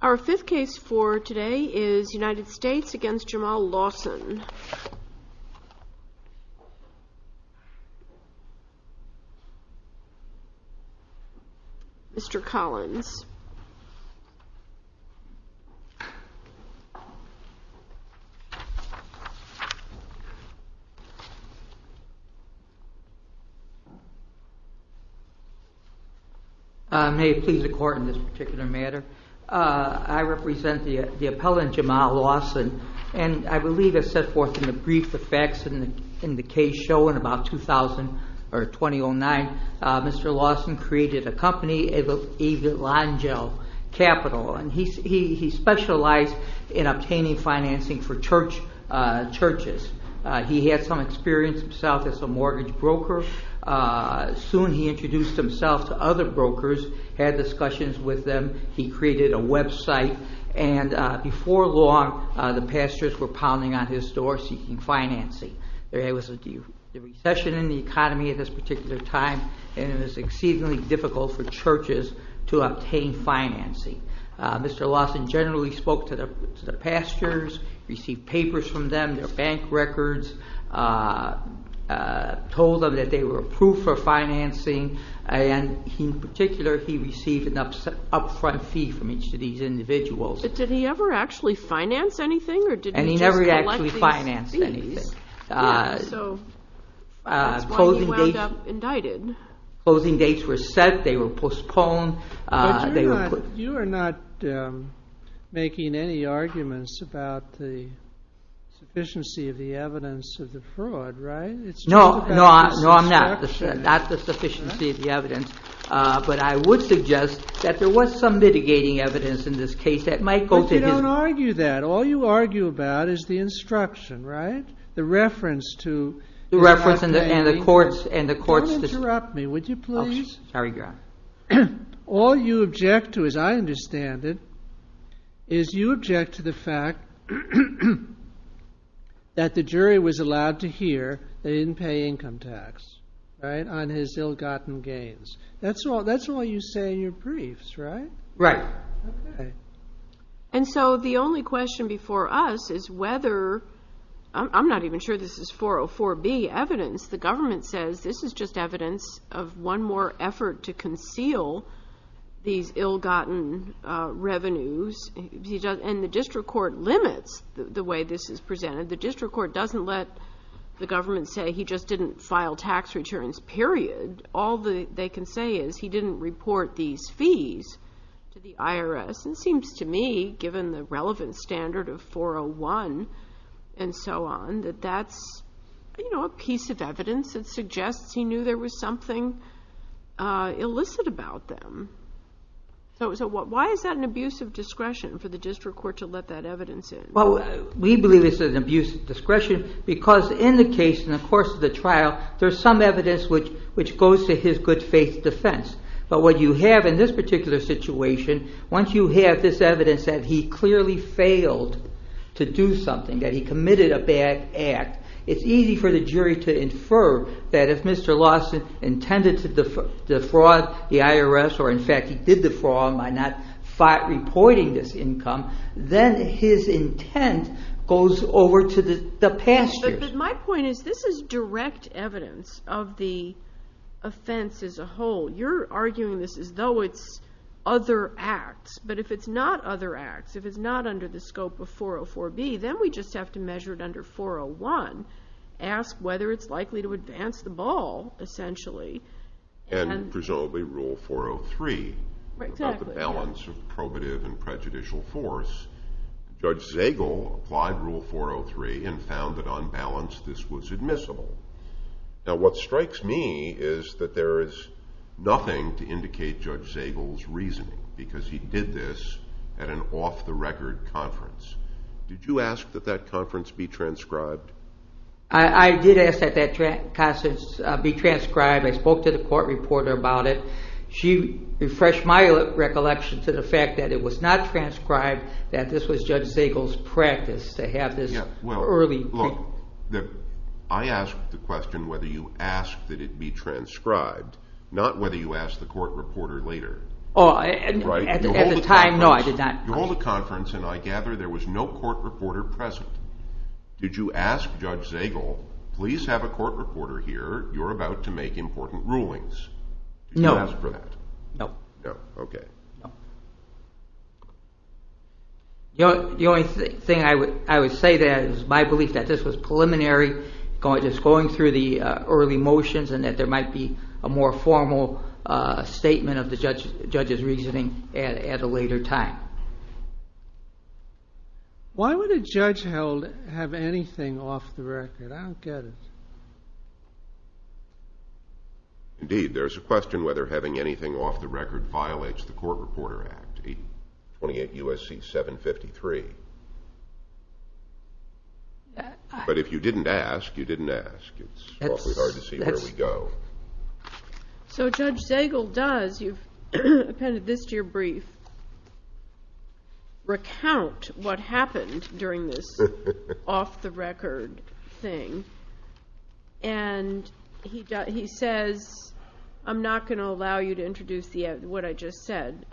Our fifth case for today is United States v. Jamal Lawson, Mr. Collins. May it please the court in this particular matter, I represent the appellant Jamal Lawson, and I believe as set forth in the brief, the facts in the case show in about 2000 or 2009, Mr. Lawson created a company, Evangel Capital, and he specialized in obtaining financing for churches. He had some experience himself as a mortgage broker, soon he introduced himself to other brokers, had discussions with them, he created a website, and before long the pastors were pounding on his door seeking financing. There was a recession in the economy at this particular time, and it was exceedingly difficult for churches to obtain financing. Mr. Lawson generally spoke to the pastors, received papers from them, their bank records, told them that they were approved for financing, and in particular he received an upfront fee from each of these individuals. Did he ever actually finance anything? He never actually financed anything. That's why he wound up indicted. Closing dates were set, they were postponed. But you are not making any arguments about the sufficiency of the evidence of the fraud, right? No, I'm not. Not the sufficiency of the evidence, but I would suggest that there was some mitigating evidence in this case that might go to him. But you don't argue that. All you argue about is the instruction, right? The reference to... The reference and the courts... Don't interrupt me, would you please? Sorry, Your Honor. All you object to, as I understand it, is you object to the fact that the jury was allowed to hear that he didn't pay income tax on his ill-gotten gains. That's all you say in your briefs, right? Right. And so the only question before us is whether... I'm not even sure this is 404B evidence. The government says this is just evidence of one more effort to conceal these ill-gotten revenues. And the district court limits the way this is presented. The district court doesn't let the government say he just didn't file tax returns, period. All they can say is he didn't report these fees to the IRS. And it seems to me, given the relevant standard of 401 and so on, that that's a piece of evidence that suggests he knew there was something illicit about them. So why is that an abuse of discretion for the district court to let that evidence in? Well, we believe this is an abuse of discretion because in the case, in the course of the trial, there's some evidence which goes to his good faith defense. But what you have in this particular situation, once you have this evidence that he clearly failed to do something, that he committed a bad act, it's easy for the jury to infer that if Mr. Lawson intended to defraud the IRS, or in fact he did defraud by not reporting this income, then his intent goes over to the past years. But my point is this is direct evidence of the offense as a whole. You're arguing this as though it's other acts. But if it's not other acts, if it's not under the scope of 404B, then we just have to measure it under 401, ask whether it's likely to advance the ball, essentially. And presumably Rule 403 about the balance of probative and prejudicial force. Judge Zagel applied Rule 403 and found that on balance this was admissible. Now what strikes me is that there is nothing to indicate Judge Zagel's reasoning because he did this at an off-the-record conference. Did you ask that that conference be transcribed? I did ask that that conference be transcribed. I spoke to the court reporter about it. She refreshed my recollection to the fact that it was not transcribed, that this was Judge Zagel's practice to have this early... I asked the question whether you asked that it be transcribed, not whether you asked the court reporter later. At the time, no, I did not. You hold a conference and I gather there was no court reporter present. Did you ask Judge Zagel, please have a court reporter here? You're about to make important rulings. No. Did you ask for that? No. No, okay. The only thing I would say there is my belief that this was preliminary, just going through the early motions and that there might be a more formal statement of the judge's reasoning at a later time. Why would a judge have anything off the record? I don't get it. Indeed, there's a question whether having anything off the record violates the Court Reporter Act, 28 U.S.C. 753. But if you didn't ask, you didn't ask. It's awfully hard to see where we go. So Judge Zagel does, you've appended this to your brief, recount what happened during this off-the-record thing. And he says, I'm not going to allow you to introduce what I just said.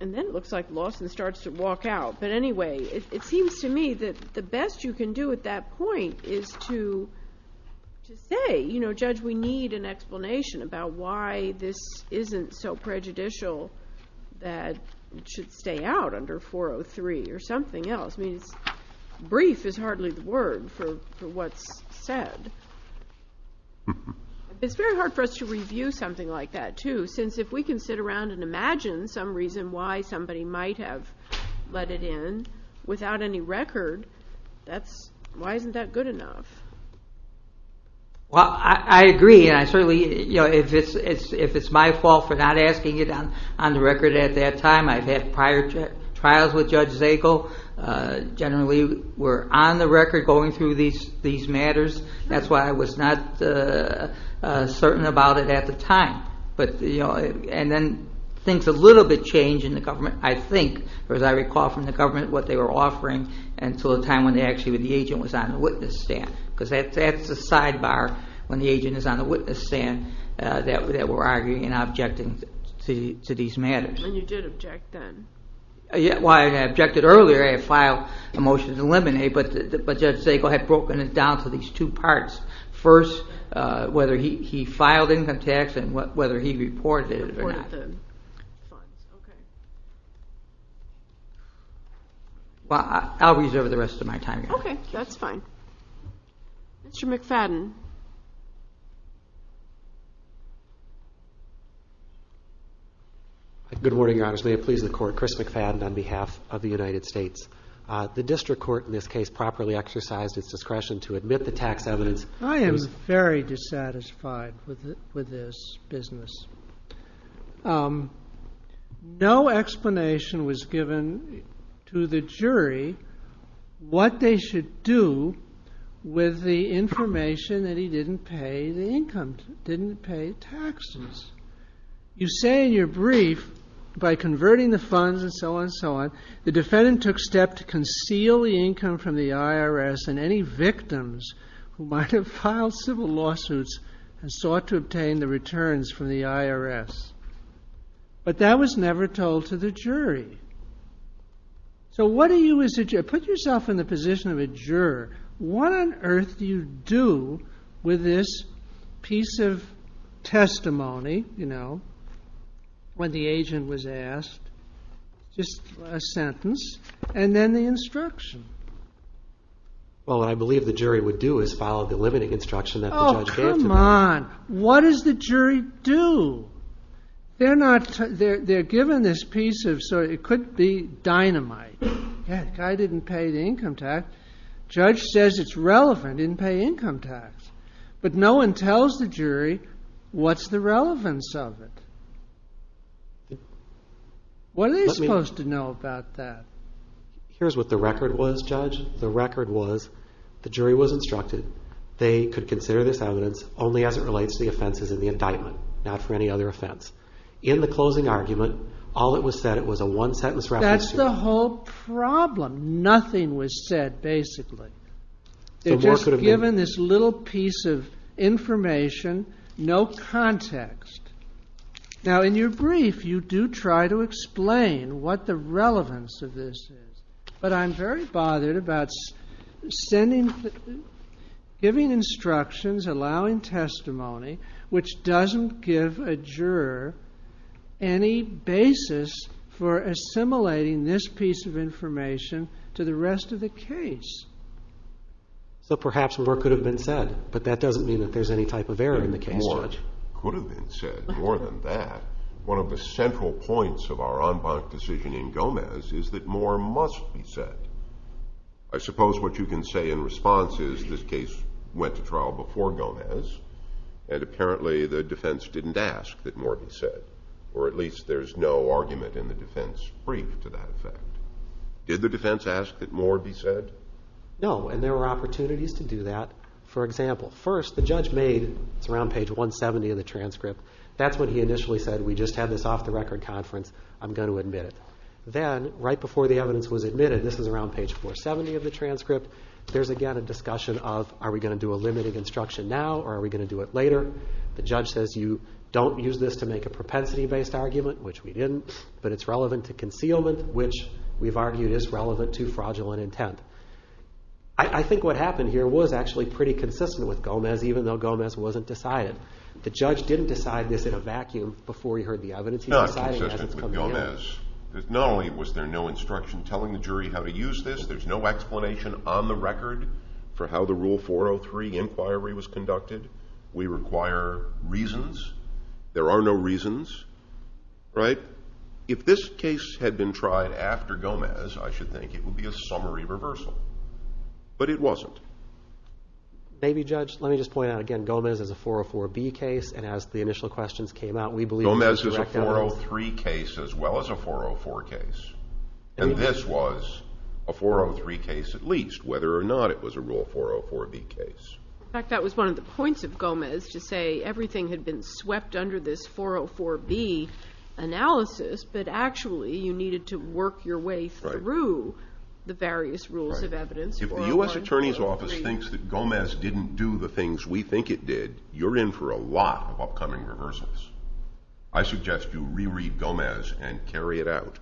And then it looks like Lawson starts to walk out. But anyway, it seems to me that the best you can do at that point is to say, you know, Judge, we need an explanation about why this isn't so prejudicial that it should stay out under 403 or something else. Brief is hardly the word for what's said. It's very hard for us to review something like that, too, since if we can sit around and imagine some reason why somebody might have let it in without any record, why isn't that good enough? Well, I agree, and I certainly, you know, if it's my fault for not asking it on the record at that time, I've had prior trials with Judge Zagel. Generally, we're on the record going through these matters. That's why I was not certain about it at the time. But, you know, and then things a little bit changed in the government, I think, as I recall from the government, what they were offering until the time when actually the agent was on the witness stand. Because that's a sidebar when the agent is on the witness stand that we're arguing and objecting to these matters. And you did object then. Yeah, well, I objected earlier. I filed a motion to eliminate, but Judge Zagel had broken it down to these two parts. First, whether he filed income tax and whether he reported it or not. Reported the funds, okay. Well, I'll reserve the rest of my time here. Okay, that's fine. Mr. McFadden. Good morning, Your Honor. May it please the Court. Chris McFadden on behalf of the United States. The district court in this case properly exercised its discretion to admit the tax evidence. I am very dissatisfied with this business. No explanation was given to the jury what they should do with the information that he didn't pay the income, didn't pay taxes. You say in your brief, by converting the funds and so on and so on, the defendant took step to conceal the income from the IRS and any victims who might have filed civil lawsuits and sought to obtain the returns from the IRS. But that was never told to the jury. So what are you, as a juror, put yourself in the position of a juror. What on earth do you do with this piece of testimony, you know, when the agent was asked? Just a sentence and then the instruction. Well, what I believe the jury would do is follow the limiting instruction that the judge gave to them. Oh, come on. What does the jury do? They're not, they're given this piece of, so it could be dynamite. Yeah, the guy didn't pay the income tax. Judge says it's relevant, didn't pay income tax. But no one tells the jury what's the relevance of it. What are they supposed to know about that? Here's what the record was, Judge. The record was the jury was instructed they could consider this evidence only as it relates to the offenses in the indictment, not for any other offense. In the closing argument, all that was said, it was a one-sentence reference. That's the whole problem. Nothing was said, basically. They're just given this little piece of information, no context. Now, in your brief, you do try to explain what the relevance of this is. But I'm very bothered about sending, giving instructions, allowing testimony, which doesn't give a juror any basis for assimilating this piece of information to the rest of the case. So perhaps more could have been said, but that doesn't mean that there's any type of error in the case, Judge. More could have been said, more than that. One of the central points of our en banc decision in Gomez is that more must be said. I suppose what you can say in response is this case went to trial before Gomez, and apparently the defense didn't ask that more be said. Or at least there's no argument in the defense brief to that effect. Did the defense ask that more be said? No, and there were opportunities to do that. For example, first, the judge made, it's around page 170 of the transcript, that's when he initially said, we just had this off-the-record conference, I'm going to admit it. Then, right before the evidence was admitted, this is around page 470 of the transcript, there's again a discussion of, are we going to do a limited instruction now, or are we going to do it later? The judge says, you don't use this to make a propensity-based argument, which we didn't, but it's relevant to concealment, which we've argued is relevant to fraudulent intent. I think what happened here was actually pretty consistent with Gomez, even though Gomez wasn't decided. The judge didn't decide this in a vacuum before he heard the evidence. He's deciding as it's coming out. Not consistent with Gomez. Not only was there no instruction telling the jury how to use this, there's no explanation on the record for how the Rule 403 inquiry was conducted. We require reasons. There are no reasons. If this case had been tried after Gomez, I should think it would be a summary reversal, but it wasn't. Maybe, Judge. Let me just point out again, Gomez is a 404B case, and as the initial questions came out, we believe it was a direct evidence. Gomez is a 403 case as well as a 404 case, and this was a 403 case at least, whether or not it was a Rule 404B case. In fact, that was one of the points of Gomez to say everything had been swept under this 404B analysis, but actually you needed to work your way through the various rules of evidence. If the U.S. Attorney's Office thinks that Gomez didn't do the things we think it did, you're in for a lot of upcoming reversals. I suggest you reread Gomez and carry it out.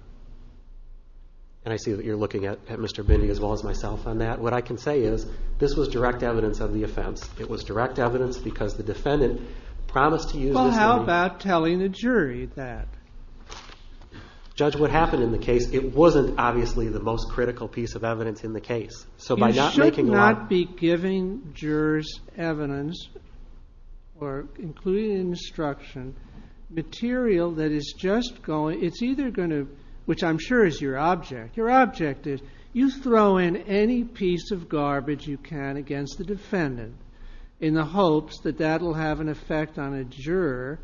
And I see that you're looking at Mr. Binney as well as myself on that. What I can say is this was direct evidence of the offense. It was direct evidence because the defendant promised to use this evidence. Well, how about telling the jury that? Judge, what happened in the case, it wasn't obviously the most critical piece of evidence in the case. You should not be giving jurors evidence or including instruction material that is just going to, which I'm sure is your object. Your object is you throw in any piece of garbage you can against the defendant in the hopes that that will have an effect on a juror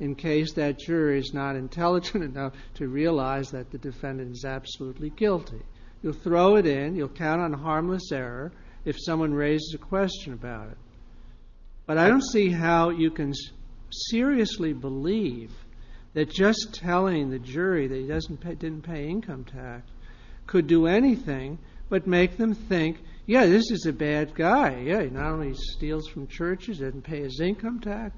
in case that juror is not intelligent enough to realize that the defendant is absolutely guilty. You'll throw it in, you'll count on harmless error if someone raises a question about it. But I don't see how you can seriously believe that just telling the jury that he didn't pay income tax could do anything but make them think, yeah, this is a bad guy. Yeah, he not only steals from churches, didn't pay his income tax.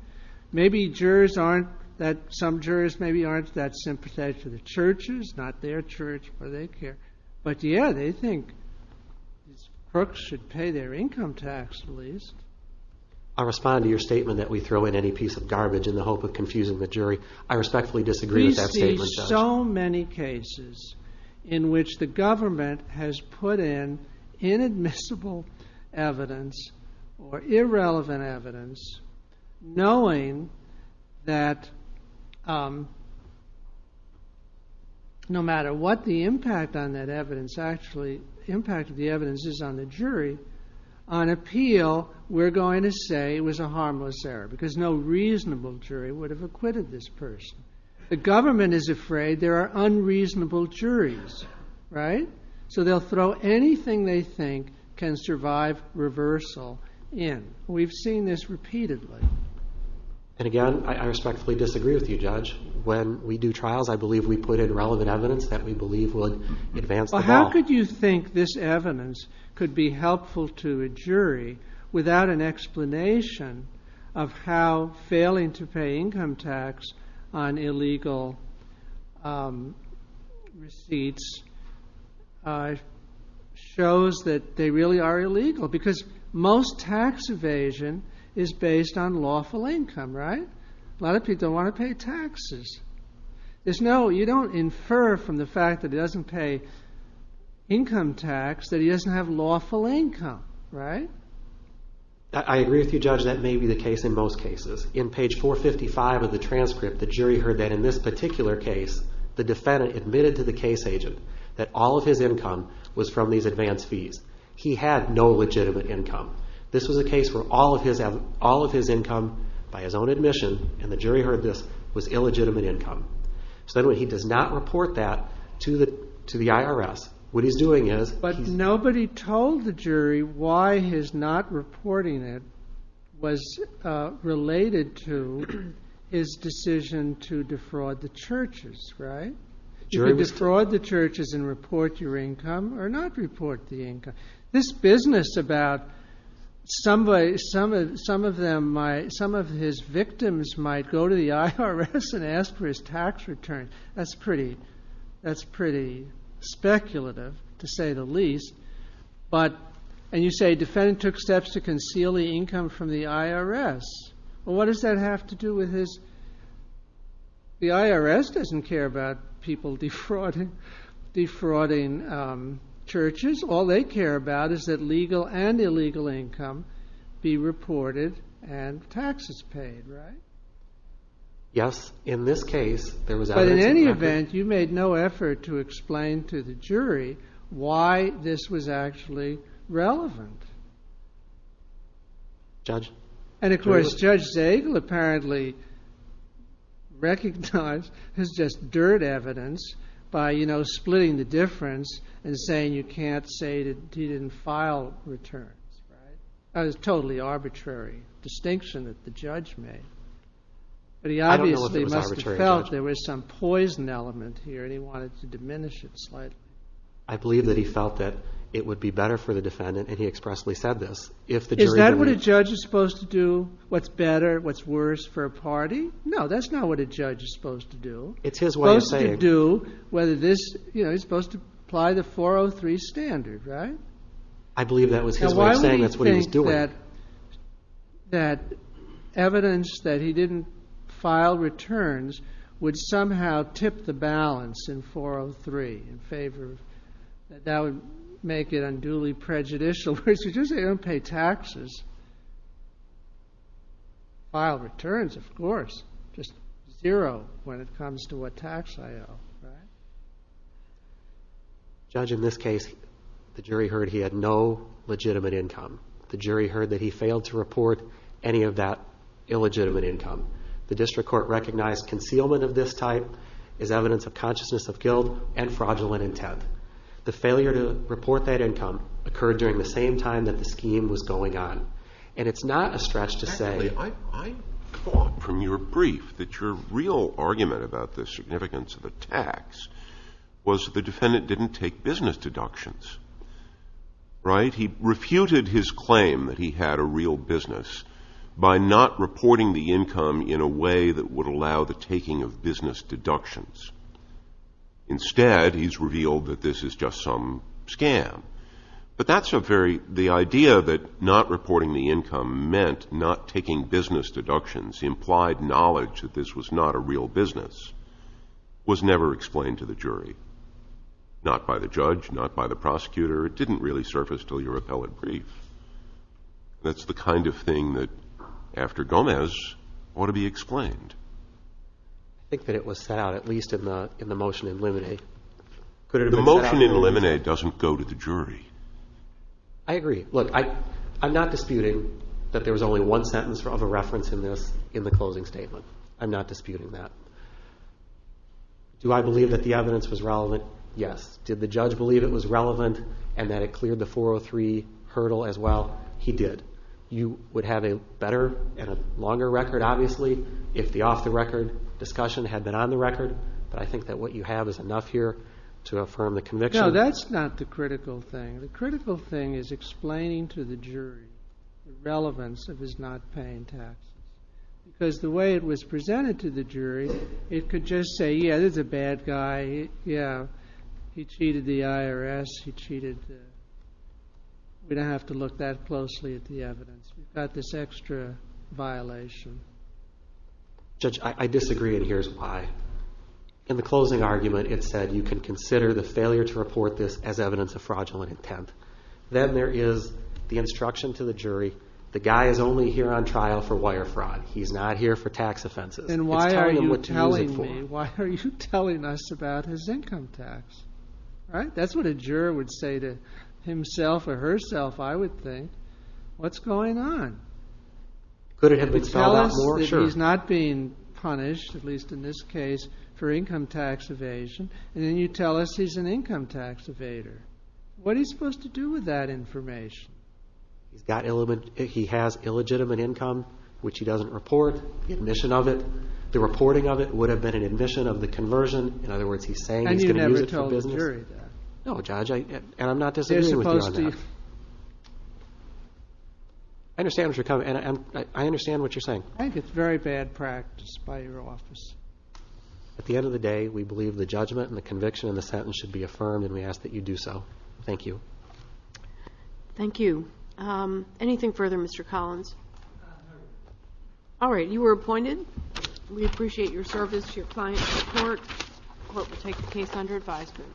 Maybe some jurors maybe aren't that sympathetic to the churches, not their church, but they care. Perks should pay their income tax at least. I respond to your statement that we throw in any piece of garbage in the hope of confusing the jury. I respectfully disagree with that statement, Judge. We see so many cases in which the government has put in inadmissible evidence or irrelevant evidence knowing that no matter what the impact of that evidence is on the jury, on appeal we're going to say it was a harmless error because no reasonable jury would have acquitted this person. The government is afraid there are unreasonable juries, right? So they'll throw anything they think can survive reversal in. We've seen this repeatedly. And again, I respectfully disagree with you, Judge. When we do trials, I believe we put in relevant evidence that we believe would advance the law. How could you think this evidence could be helpful to a jury without an explanation of how failing to pay income tax on illegal receipts shows that they really are illegal? Because most tax evasion is based on lawful income, right? A lot of people don't want to pay taxes. You don't infer from the fact that he doesn't pay income tax that he doesn't have lawful income, right? I agree with you, Judge. That may be the case in most cases. In page 455 of the transcript, the jury heard that in this particular case, the defendant admitted to the case agent that all of his income was from these advance fees. He had no legitimate income. This was a case where all of his income by his own admission, and the jury heard this, was illegitimate income. So he does not report that to the IRS. But nobody told the jury why his not reporting it was related to his decision to defraud the churches, right? You can defraud the churches and report your income or not report the income. This business about some of his victims might go to the IRS and ask for his tax return, that's pretty speculative, to say the least. And you say the defendant took steps to conceal the income from the IRS. Well, what does that have to do with his... The IRS doesn't care about people defrauding churches. All they care about is that legal and illegal income be reported and taxes paid, right? Yes. In this case, there was evidence of that. But in any event, you made no effort to explain to the jury why this was actually relevant. Judge? And of course, Judge Zagel apparently recognized this is just dirt evidence by, you know, splitting the difference and saying you can't say that he didn't file returns, right? That is a totally arbitrary distinction that the judge made. But he obviously must have felt there was some poison element here and he wanted to diminish it slightly. I believe that he felt that it would be better for the defendant, and he expressly said this, if the jury... Is that what a judge is supposed to do, what's better, what's worse for a party? No, that's not what a judge is supposed to do. It's his way of saying... Supposed to do whether this, you know, he's supposed to apply the 403 standard, right? I believe that was his way of saying that's what he was doing. ...that evidence that he didn't file returns would somehow tip the balance in 403 in favor of... That would make it unduly prejudicial, because you just don't pay taxes. File returns, of course, just zero when it comes to what tax I owe, right? Judge, in this case, the jury heard he had no legitimate income. The jury heard that he failed to report any of that illegitimate income. The district court recognized concealment of this type is evidence of consciousness of guilt and fraudulent intent. The failure to report that income occurred during the same time that the scheme was going on. And it's not a stretch to say... Because the defendant didn't take business deductions, right? He refuted his claim that he had a real business by not reporting the income in a way that would allow the taking of business deductions. Instead, he's revealed that this is just some scam. But that's a very... Not reporting the income meant not taking business deductions, implied knowledge that this was not a real business, was never explained to the jury. Not by the judge, not by the prosecutor. It didn't really surface till your appellate brief. That's the kind of thing that, after Gomez, ought to be explained. I think that it was set out, at least in the motion in limine. The motion in limine doesn't go to the jury. I agree. Look, I'm not disputing that there was only one sentence of a reference in this in the closing statement. I'm not disputing that. Do I believe that the evidence was relevant? Yes. Did the judge believe it was relevant and that it cleared the 403 hurdle as well? He did. You would have a better and a longer record, obviously, if the off-the-record discussion had been on the record. But I think that what you have is enough here to affirm the conviction. No, that's not the critical thing. The critical thing is explaining to the jury the relevance of his not paying taxes. Because the way it was presented to the jury, it could just say, yeah, this is a bad guy. Yeah, he cheated the IRS. He cheated the ____. We don't have to look that closely at the evidence. We've got this extra violation. Judge, I disagree, and here's why. In the closing argument it said you can consider the failure to report this as evidence of fraudulent intent. Then there is the instruction to the jury, the guy is only here on trial for wire fraud. He's not here for tax offenses. Then why are you telling me? Why are you telling us about his income tax? That's what a juror would say to himself or herself, I would think. What's going on? Could it have been spelled out more? He's not being punished, at least in this case, for income tax evasion. Then you tell us he's an income tax evader. What are you supposed to do with that information? He has illegitimate income, which he doesn't report, the admission of it. The reporting of it would have been an admission of the conversion. In other words, he's saying he's going to use it for business. And you never told the jury that? No, Judge, and I'm not disingenuous with you on that. I understand what you're saying. I think it's very bad practice by your office. At the end of the day, we believe the judgment and the conviction in the sentence should be affirmed, and we ask that you do so. Thank you. Thank you. Anything further, Mr. Collins? All right, you were appointed. We appreciate your service, your client support. The court will take the case under advisement.